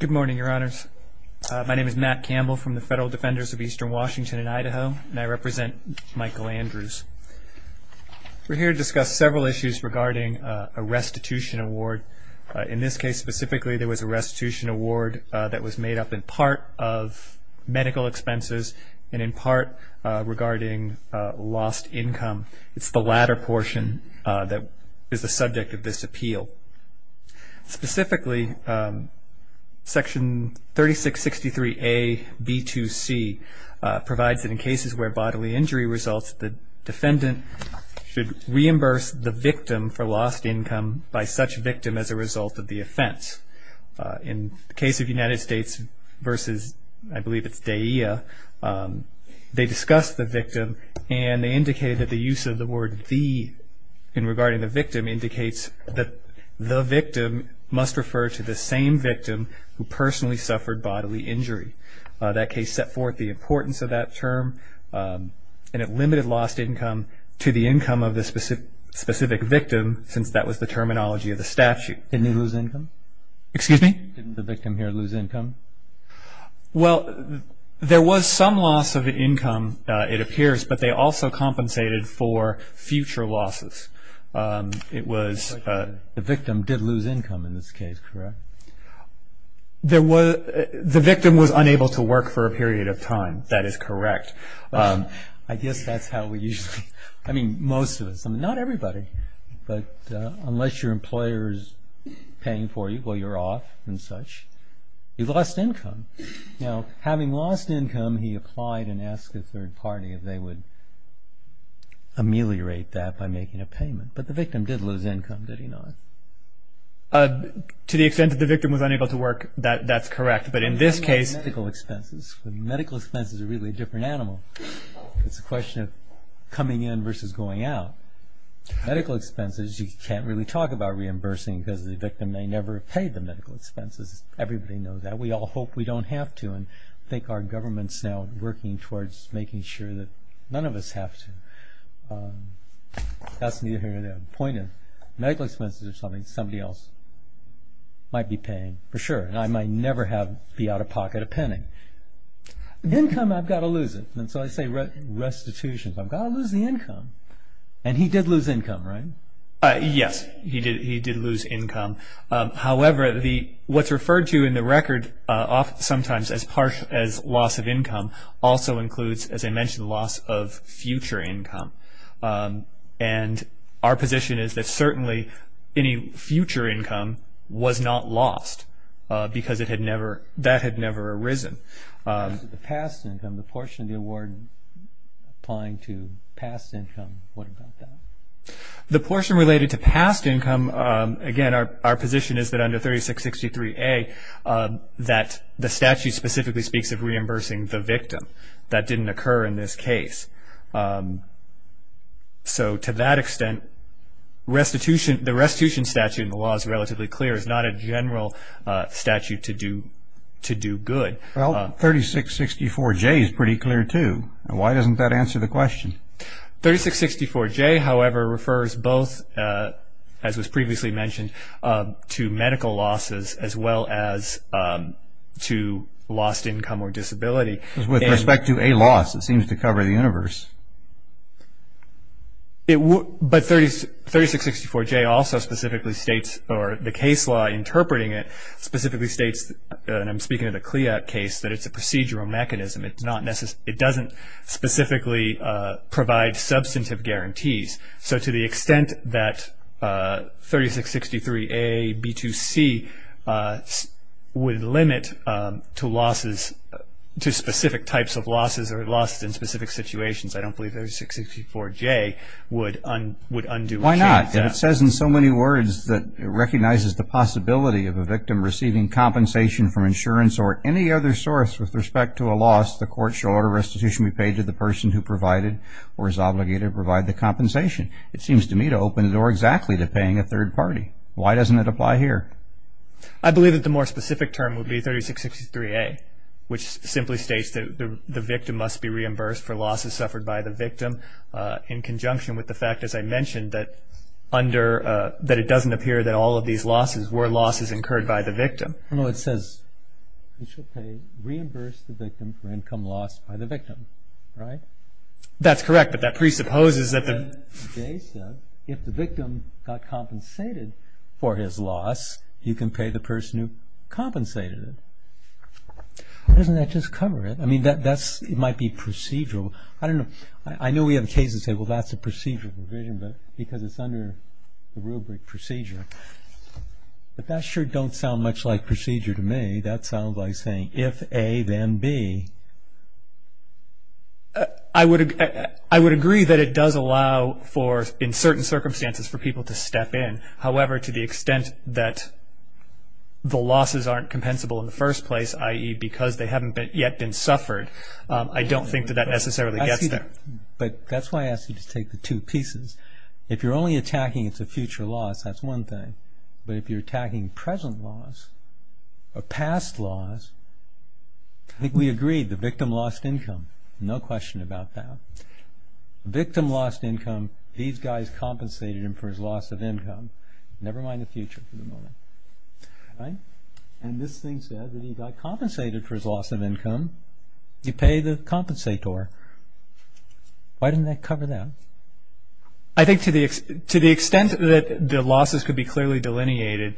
Good morning, Your Honors. My name is Matt Campbell from the Federal Defenders of Eastern Washington and Idaho, and I represent Michael Andrews. We're here to discuss several issues regarding a restitution award. In this case specifically, there was a restitution award that was made up in part of medical expenses and in part regarding lost income. It's the latter portion that is the subject of this appeal. Specifically, Section 3663A.B.2.C. provides that in cases where bodily injury results, the defendant should reimburse the victim for lost income by such victim as a result of the offense. In the case of United States v. I believe it's DAEA, they discussed the victim and they indicated that the use of the word the in regarding the victim indicates that the victim must refer to the same victim who personally suffered bodily injury. That case set forth the importance of that term and it limited lost income to the income of the specific victim since that was the terminology of the statute. Didn't they lose income? Excuse me? Didn't the victim here lose income? Well, there was some loss of income it appears, but they also compensated for future losses. The victim did lose income in this case, correct? The victim was unable to work for a period of time, that is correct. I guess that's how we usually, I mean most of us, not everybody, but unless your employer is paying for you while you're off and such, you've lost income. Now, having lost income, he applied and asked a third party if they would ameliorate that by making a payment, but the victim did lose income, did he not? To the extent that the victim was unable to work, that's correct, but in this case... Medical expenses, medical expenses are really a different animal. It's a question of coming in versus going out. Medical expenses, you can't really talk about reimbursing because the victim may never have paid the medical expenses. Everybody knows that. We all hope we don't have to and think our government's now working towards making sure that none of us have to. That's neither here nor there. The point is medical expenses are something somebody else might be paying for sure, and I might never be out of pocket a penny. Income, I've got to lose it, and so I say restitutions. I've got to lose the income, and he did lose income, right? Yes, he did lose income. However, what's referred to in the record sometimes as loss of income also includes, as I mentioned, loss of future income, and our position is that certainly any future income was not lost because that had never arisen. The past income, the portion of the award applying to past income, what about that? The portion related to past income, again, our position is that under 3663A, that the statute specifically speaks of reimbursing the victim. That didn't occur in this case. So to that extent, the restitution statute in the law is relatively clear. It's not a general statute to do good. Well, 3664J is pretty clear too. Why doesn't that answer the question? 3664J, however, refers both, as was previously mentioned, to medical losses as well as to lost income or disability. With respect to a loss, it seems to cover the universe. But 3664J also specifically states, or the case law interpreting it specifically states, and I'm speaking of the CLIA case, that it's a procedural mechanism. It doesn't specifically provide substantive guarantees. So to the extent that 3663A, B2C would limit to losses, to specific types of losses or losses in specific situations, I don't believe 3664J would undo or change that. Why not? It says in so many words that it recognizes the possibility of a victim receiving compensation from insurance or any other source with respect to a loss, the court shall order restitution be paid to the person who provided or is obligated to provide the compensation. It seems to me to open the door exactly to paying a third party. Why doesn't it apply here? I believe that the more specific term would be 3663A, which simply states that the victim must be reimbursed for losses suffered by the victim in conjunction with the fact, as I mentioned, that it doesn't appear that all of these losses were losses incurred by the victim. No, it says you should reimburse the victim for income lost by the victim, right? That's correct, but that presupposes that the victim got compensated for his loss, you can pay the person who compensated it. Doesn't that just cover it? I mean, it might be procedural. I know we have cases that say, well, that's a procedural provision, but because it's under the rubric procedure. But that sure don't sound much like procedure to me. That sounds like saying, if A, then B. I would agree that it does allow for, in certain circumstances, for people to step in. However, to the extent that the losses aren't compensable in the first place, i.e., because they haven't yet been suffered, I don't think that that necessarily gets there. But that's why I asked you to take the two pieces. If you're only attacking it's a future loss, that's one thing. But if you're attacking present loss or past loss, I think we agreed the victim lost income. No question about that. The victim lost income, these guys compensated him for his loss of income. Never mind the future for the moment. And this thing says that he got compensated for his loss of income. You pay the compensator. Why didn't that cover that? I think to the extent that the losses could be clearly delineated,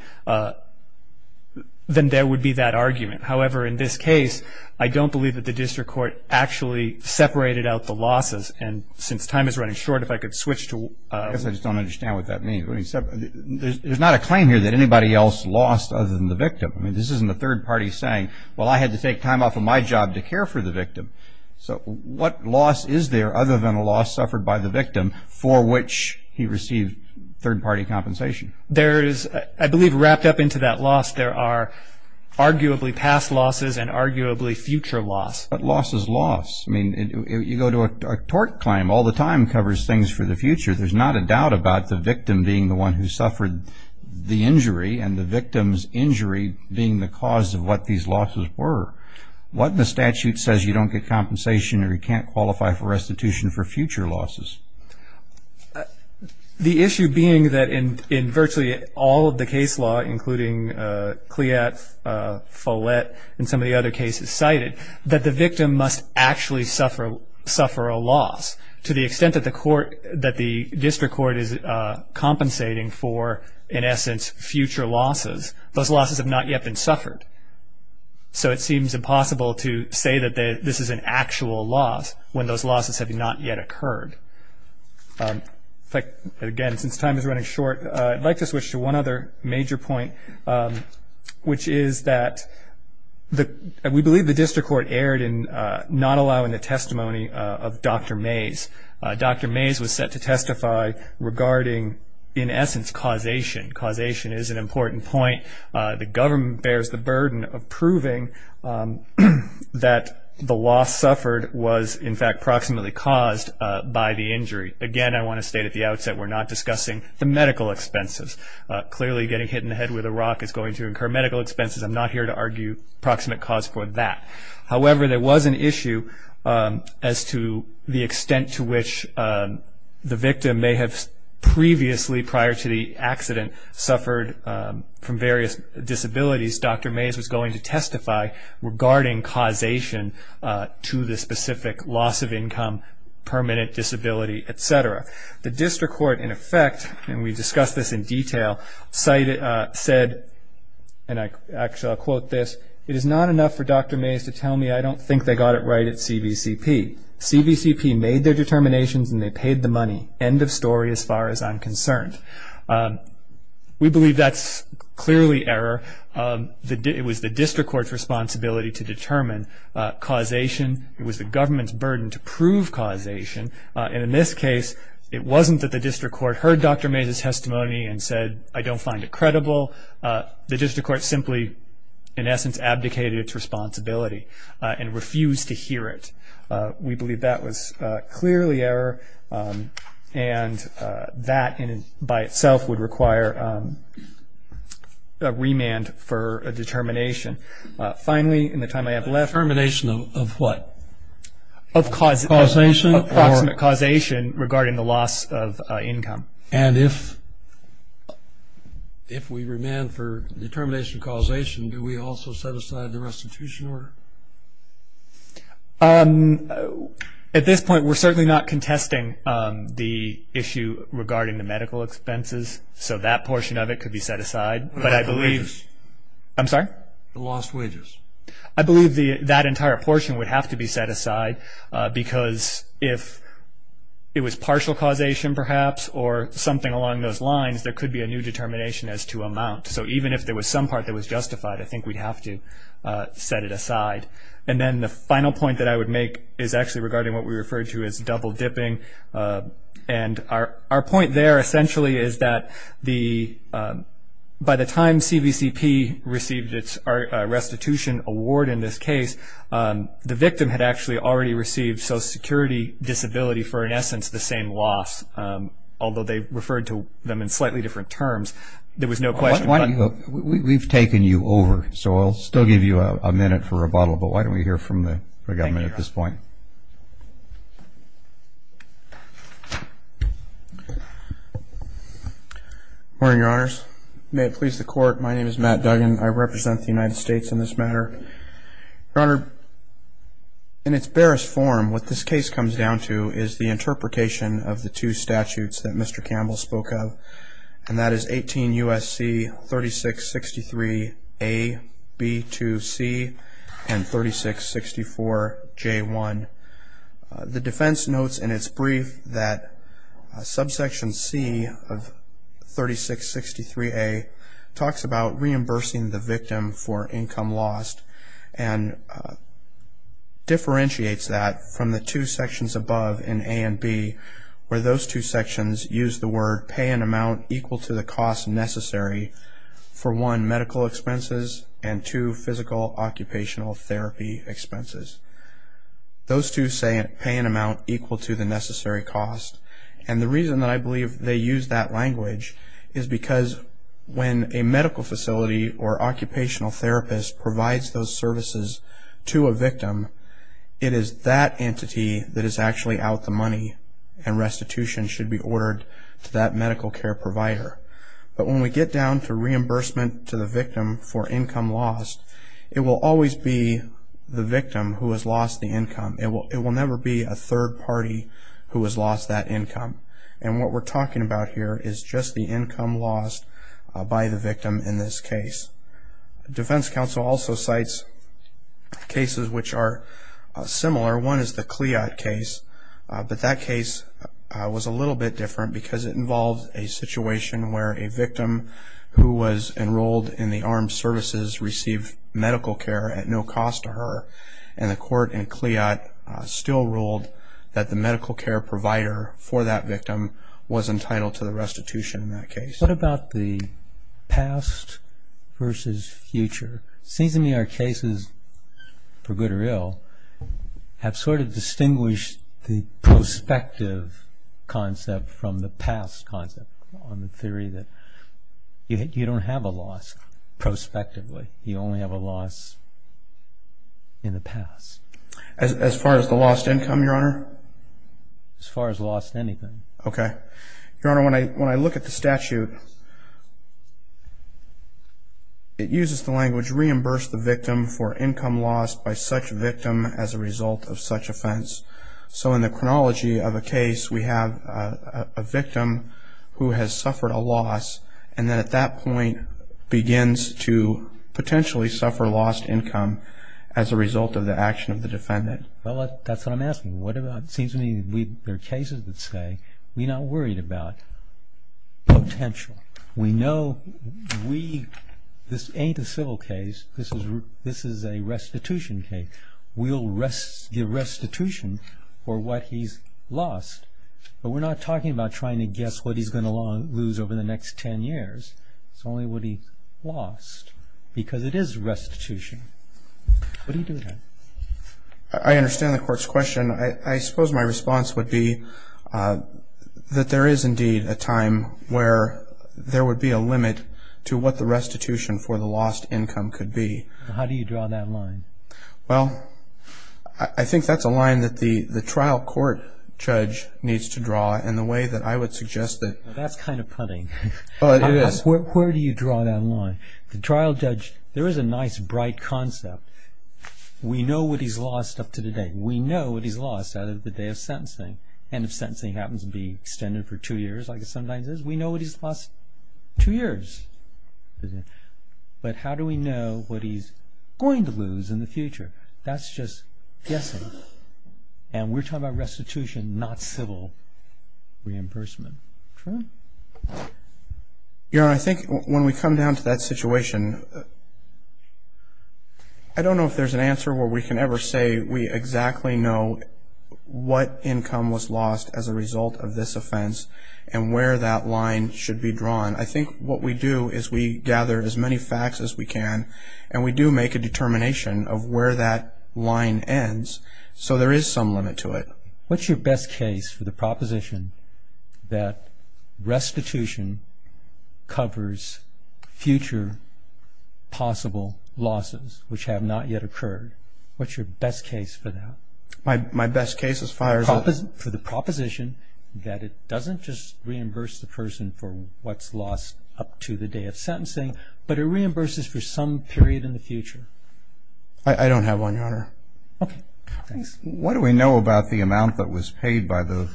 then there would be that argument. However, in this case, I don't believe that the district court actually separated out the losses. And since time is running short, if I could switch to one. I just don't understand what that means. There's not a claim here that anybody else lost other than the victim. I mean, this isn't the third party saying, well, I had to take time off of my job to care for the victim. So what loss is there other than a loss suffered by the victim for which he received third party compensation? There is, I believe wrapped up into that loss, there are arguably past losses and arguably future loss. But loss is loss. I mean, you go to a tort claim all the time, covers things for the future. There's not a doubt about the victim being the one who suffered the injury and the victim's injury being the cause of what these losses were. What if the statute says you don't get compensation or you can't qualify for restitution for future losses? The issue being that in virtually all of the case law, including Cleat, Follett, and some of the other cases cited, that the victim must actually suffer a loss. To the extent that the district court is compensating for, in essence, future losses, those losses have not yet been suffered. So it seems impossible to say that this is an actual loss when those losses have not yet occurred. Again, since time is running short, I'd like to switch to one other major point, which is that we believe the district court erred in not allowing the testimony of Dr. Mays. Dr. Mays was set to testify regarding, in essence, causation. Causation is an important point. The government bears the burden of proving that the loss suffered was, in fact, proximately caused by the injury. Again, I want to state at the outset we're not discussing the medical expenses. Clearly, getting hit in the head with a rock is going to incur medical expenses. I'm not here to argue proximate cause for that. However, there was an issue as to the extent to which the victim may have previously, prior to the accident, suffered from various disabilities. Dr. Mays was going to testify regarding causation to the specific loss of income, permanent disability, et cetera. The district court, in effect, and we discussed this in detail, said, and actually I'll quote this, it is not enough for Dr. Mays to tell me I don't think they got it right at CVCP. End of story as far as I'm concerned. We believe that's clearly error. It was the district court's responsibility to determine causation. It was the government's burden to prove causation. And in this case, it wasn't that the district court heard Dr. Mays' testimony and said I don't find it credible. The district court simply, in essence, abdicated its responsibility and refused to hear it. We believe that was clearly error, and that by itself would require a remand for a determination. Finally, in the time I have left. Determination of what? Of cause. Causation. Approximate causation regarding the loss of income. And if we remand for determination of causation, do we also set aside the restitution order? At this point, we're certainly not contesting the issue regarding the medical expenses, so that portion of it could be set aside. But I believe. I'm sorry? The lost wages. I believe that entire portion would have to be set aside, because if it was partial causation perhaps or something along those lines, there could be a new determination as to amount. So even if there was some part that was justified, I think we'd have to set it aside. And then the final point that I would make is actually regarding what we referred to as double dipping. And our point there essentially is that by the time CBCP received its restitution award in this case, the victim had actually already received Social Security disability for, in essence, the same loss, although they referred to them in slightly different terms. There was no question. We've taken you over, so I'll still give you a minute for rebuttal, but why don't we hear from the government at this point? Good morning, Your Honors. May it please the Court, my name is Matt Duggan. I represent the United States in this matter. Your Honor, in its barest form, what this case comes down to is the interpretation of the two statutes that Mr. Campbell spoke of, and that is 18 U.S.C. 3663A, B2C, and 3664J1. The defense notes in its brief that subsection C of 3663A talks about reimbursing the victim for income lost and differentiates that from the two sections above in A and B where those two sections use the word pay an amount equal to the cost necessary for one, medical expenses, and two, physical occupational therapy expenses. Those two say pay an amount equal to the necessary cost, and the reason that I believe they use that language is because when a medical facility or occupational therapist provides those services to a victim, it is that entity that is actually out the money, and restitution should be ordered to that medical care provider. But when we get down to reimbursement to the victim for income lost, it will always be the victim who has lost the income. It will never be a third party who has lost that income, and what we're talking about here is just the income lost by the victim in this case. Defense counsel also cites cases which are similar. One is the Cleot case, but that case was a little bit different because it involved a situation where a victim who was enrolled in the armed services received medical care at no cost to her, and the court in Cleot still ruled that the medical care provider for that victim was entitled to the restitution in that case. What about the past versus future? It seems to me our cases, for good or ill, have sort of distinguished the prospective concept from the past concept on the theory that you don't have a loss prospectively. You only have a loss in the past. As far as the lost income, Your Honor? As far as lost anything. Okay. Your Honor, when I look at the statute, it uses the language reimburse the victim for income lost by such victim as a result of such offense. So in the chronology of a case, we have a victim who has suffered a loss, and then at that point begins to potentially suffer lost income as a result of the action of the defendant. Well, that's what I'm asking. It seems to me there are cases that say we're not worried about potential. We know this ain't a civil case. This is a restitution case. We'll give restitution for what he's lost, but we're not talking about trying to guess what he's going to lose over the next ten years. It's only what he's lost because it is restitution. What do you do with that? I understand the court's question. I suppose my response would be that there is indeed a time where there would be a limit to what the restitution for the lost income could be. How do you draw that line? Well, I think that's a line that the trial court judge needs to draw in the way that I would suggest it. That's kind of punny. It is. Where do you draw that line? The trial judge, there is a nice, bright concept. We know what he's lost up to today. We know what he's lost out of the day of sentencing, and if sentencing happens to be extended for two years like it sometimes is, we know what he's lost two years. But how do we know what he's going to lose in the future? That's just guessing, and we're talking about restitution, not civil reimbursement. True? Your Honor, I think when we come down to that situation, I don't know if there's an answer where we can ever say we exactly know what income was lost as a result of this offense and where that line should be drawn. I think what we do is we gather as many facts as we can, and we do make a determination of where that line ends, so there is some limit to it. What's your best case for the proposition that restitution covers future possible losses, which have not yet occurred? What's your best case for that? My best case as far as the proposition? It doesn't just reimburse the person for what's lost up to the day of sentencing, but it reimburses for some period in the future. I don't have one, Your Honor. Okay, thanks. What do we know about the amount that was paid by the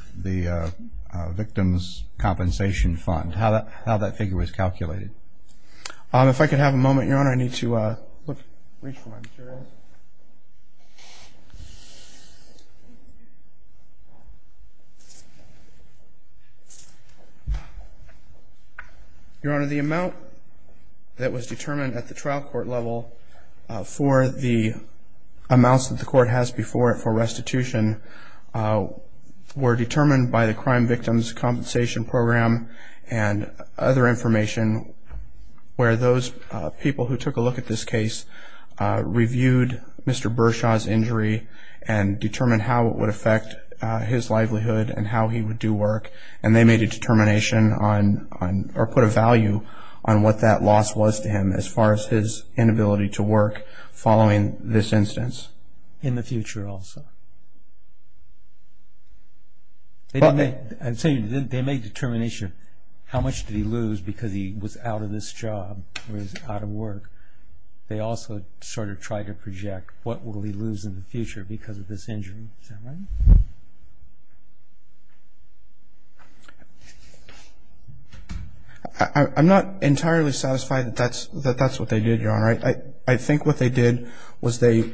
victim's compensation fund, how that figure was calculated? If I could have a moment, Your Honor, I need to reach for my materials. Your Honor, the amount that was determined at the trial court level for the amounts that the court has before it for restitution were determined by the Crime Victims' Compensation Program and other information where those people who took a look at this case reviewed Mr. Bershaw's injury and determined how it would affect his livelihood and how he would do work, and they made a determination or put a value on what that loss was to him as far as his inability to work following this instance. In the future also? I'm saying they made a determination. How much did he lose because he was out of this job or he was out of work? They also sort of tried to project what will he lose in the future because of this injury. Is that right? I'm not entirely satisfied that that's what they did, Your Honor. I think what they did was they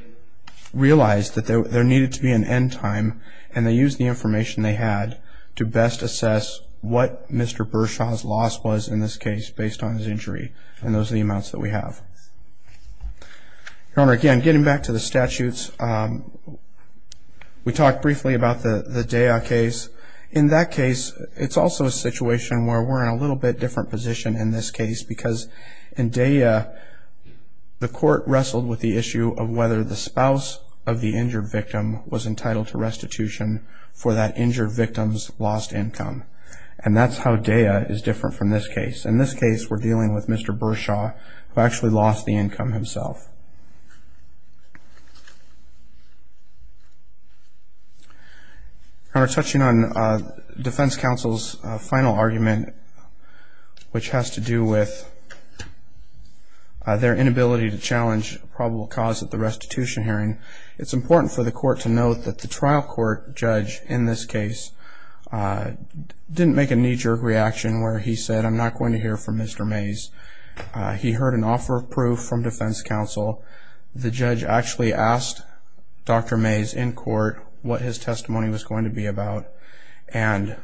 realized that there needed to be an end time and they used the information they had to best assess what Mr. Bershaw's loss was in this case based on his injury, and those are the amounts that we have. Your Honor, again, getting back to the statutes, we talked briefly about the Daya case. In that case, it's also a situation where we're in a little bit different position in this case because in Daya, the court wrestled with the issue of whether the spouse of the injured victim was entitled to restitution for that injured victim's lost income, and that's how Daya is different from this case. In this case, we're dealing with Mr. Bershaw, who actually lost the income himself. Your Honor, touching on defense counsel's final argument, which has to do with their inability to challenge probable cause at the restitution hearing, it's important for the court to note that the trial court judge in this case didn't make a knee-jerk reaction where he said, I'm not going to hear from Mr. Mays. He heard an offer of proof from defense counsel. The judge actually asked Dr. Mays in court what his testimony was going to be about and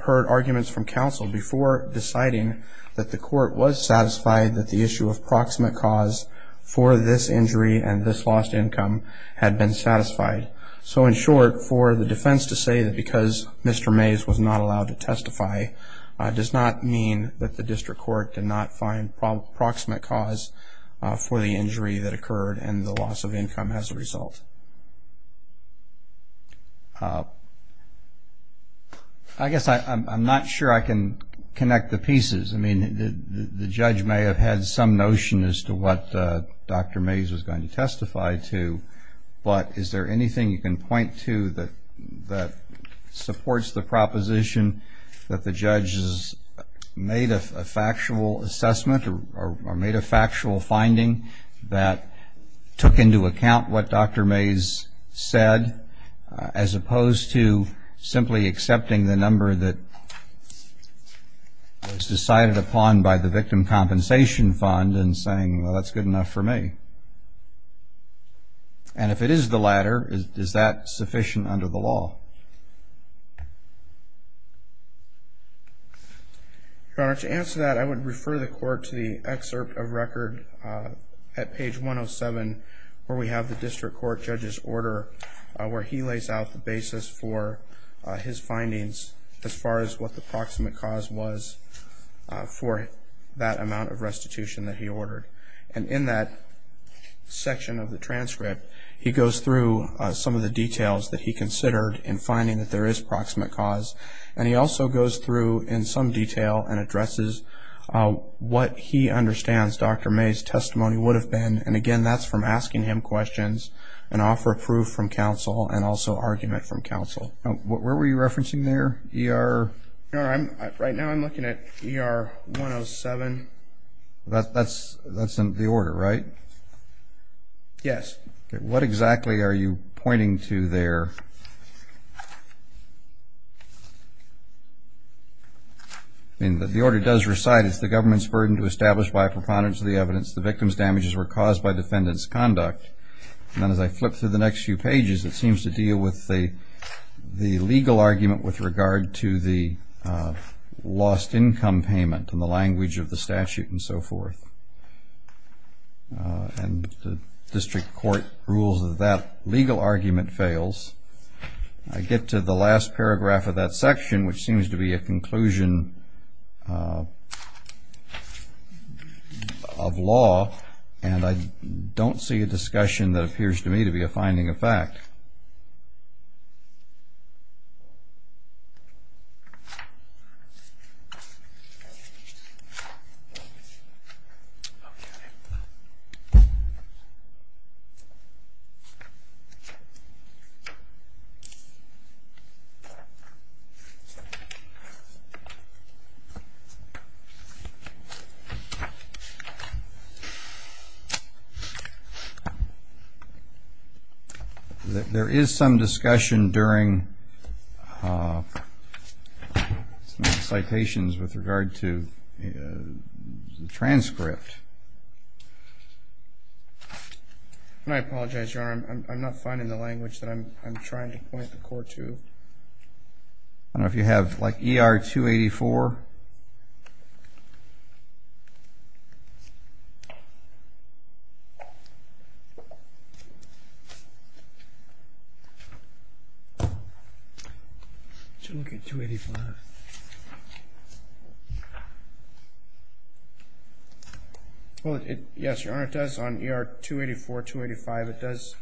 heard arguments from counsel before deciding that the court was satisfied that the issue of proximate cause for this injury and this lost income had been satisfied. So in short, for the defense to say that because Mr. Mays was not allowed to testify does not mean that the district court did not find proximate cause for the injury that occurred and the loss of income as a result. I guess I'm not sure I can connect the pieces. I mean, the judge may have had some notion as to what Dr. Mays was going to testify to, but is there anything you can point to that supports the proposition that the judge has made a factual assessment or made a factual finding that took into account what Dr. Mays said, as opposed to simply accepting the number that was decided upon by the victim compensation fund and saying, well, that's good enough for me? And if it is the latter, is that sufficient under the law? Your Honor, to answer that, I would refer the court to the excerpt of record at page 107 where we have the district court judge's order where he lays out the basis for his findings as far as what the proximate cause was for that amount of restitution that he ordered. And in that section of the transcript, he goes through some of the details that he considered in finding that there is proximate cause, and he also goes through in some detail and addresses what he understands Dr. Mays' testimony would have been. And, again, that's from asking him questions and offer proof from counsel and also argument from counsel. Where were you referencing there, ER? Your Honor, right now I'm looking at ER 107. That's the order, right? Yes. Okay. What exactly are you pointing to there? The order does recite, It's the government's burden to establish by a preponderance of the evidence the victim's damages were caused by defendant's conduct. And then as I flip through the next few pages, it seems to deal with the legal argument with regard to the lost income payment and the language of the statute and so forth. And the district court rules that that legal argument fails. I get to the last paragraph of that section, which seems to be a conclusion of law, and I don't see a discussion that appears to me to be a finding of fact. There is some discussion during some of the citations with regard to the transcript. And I apologize, Your Honor, I'm not finding the language that I'm trying to point the court to. I don't know if you have, like, ER 284. Let's look at 285. Well, yes, Your Honor, it does, on ER 284, 285, it does,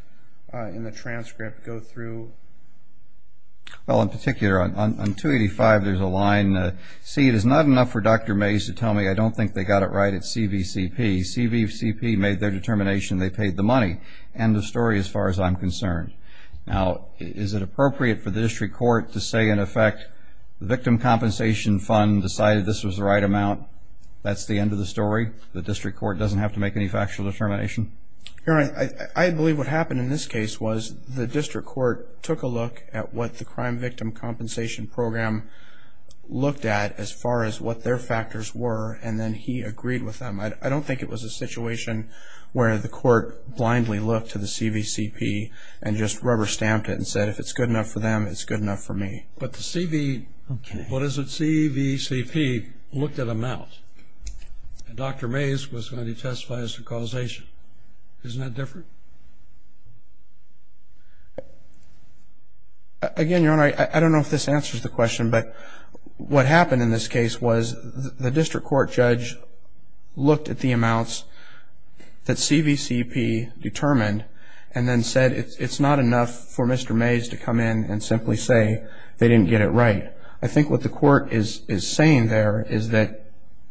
in the transcript, go through. Well, in particular, on 285, there's a line, and, C, it is not enough for Dr. Mays to tell me I don't think they got it right at CVCP. CVCP made their determination, they paid the money. End of story as far as I'm concerned. Now, is it appropriate for the district court to say, in effect, the victim compensation fund decided this was the right amount? That's the end of the story? The district court doesn't have to make any factual determination? Your Honor, I believe what happened in this case was the district court took a look at what the as far as what their factors were, and then he agreed with them. I don't think it was a situation where the court blindly looked to the CVCP and just rubber-stamped it and said, if it's good enough for them, it's good enough for me. But the CV, what is it, CVCP looked at amount, and Dr. Mays was going to testify as to causation. Isn't that different? Again, Your Honor, I don't know if this answers the question, but what happened in this case was the district court judge looked at the amounts that CVCP determined and then said it's not enough for Mr. Mays to come in and simply say they didn't get it right. I think what the court is saying there is that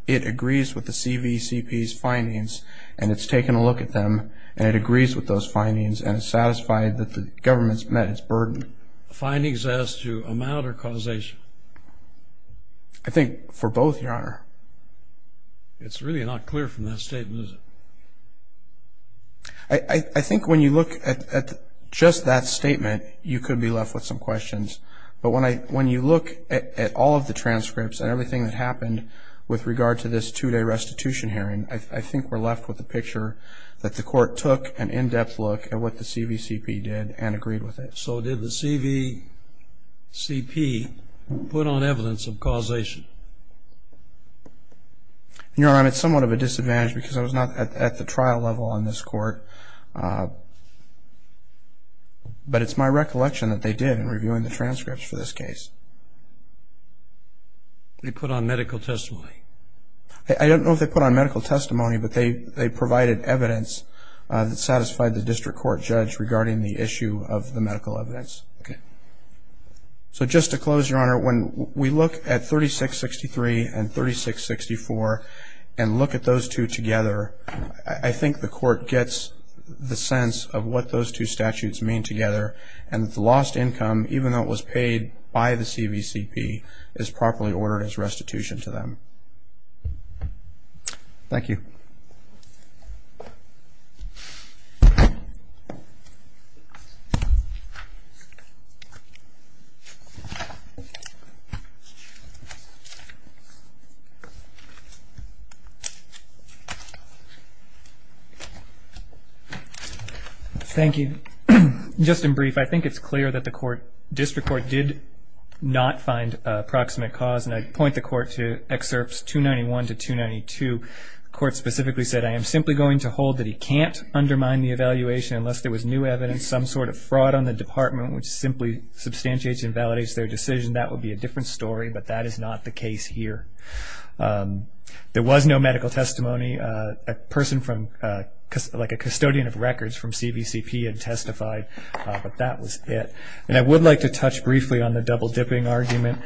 it agrees with the CVCP's findings and it's taken a look at them and it agrees with those findings and it's satisfied that the government's met its burden. Findings as to amount or causation? I think for both, Your Honor. It's really not clear from that statement, is it? I think when you look at just that statement, you could be left with some questions. But when you look at all of the transcripts and everything that happened with regard to this two-day restitution hearing, I think we're left with the picture that the court took an in-depth look at what the CVCP did and agreed with it. So did the CVCP put on evidence of causation? Your Honor, it's somewhat of a disadvantage because I was not at the trial level on this court, but it's my recollection that they did in reviewing the transcripts for this case. They put on medical testimony? I don't know if they put on medical testimony, but they provided evidence that satisfied the district court judge regarding the issue of the medical evidence. So just to close, Your Honor, when we look at 3663 and 3664 and look at those two together, I think the court gets the sense of what those two statutes mean together and that the lost income, even though it was paid by the CVCP, is properly ordered as restitution to them. Thank you. Thank you. Just in brief, I think it's clear that the district court did not find a proximate cause, and I point the court to excerpts 291 to 292. The court specifically said, I am simply going to hold that he can't undermine the evaluation unless there was new evidence, some sort of fraud on the department which simply substantiates and validates their decision. That would be a different story, but that is not the case here. There was no medical testimony. A person from, like a custodian of records from CVCP had testified, but that was it. And I would like to touch briefly on the double-dipping argument.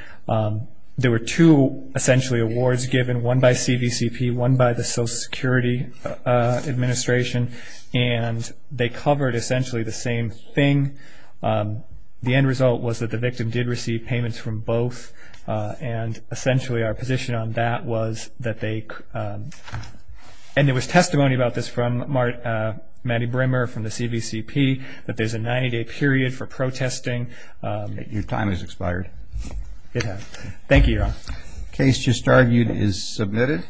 There were two, essentially, awards given, one by CVCP, one by the Social Security Administration, and they covered essentially the same thing. The end result was that the victim did receive payments from both, and essentially our position on that was that they, and there was testimony about this from Mattie Brimmer from the CVCP, that there's a 90-day period for protesting. Your time has expired. It has. Thank you, Your Honor. The case just argued is submitted.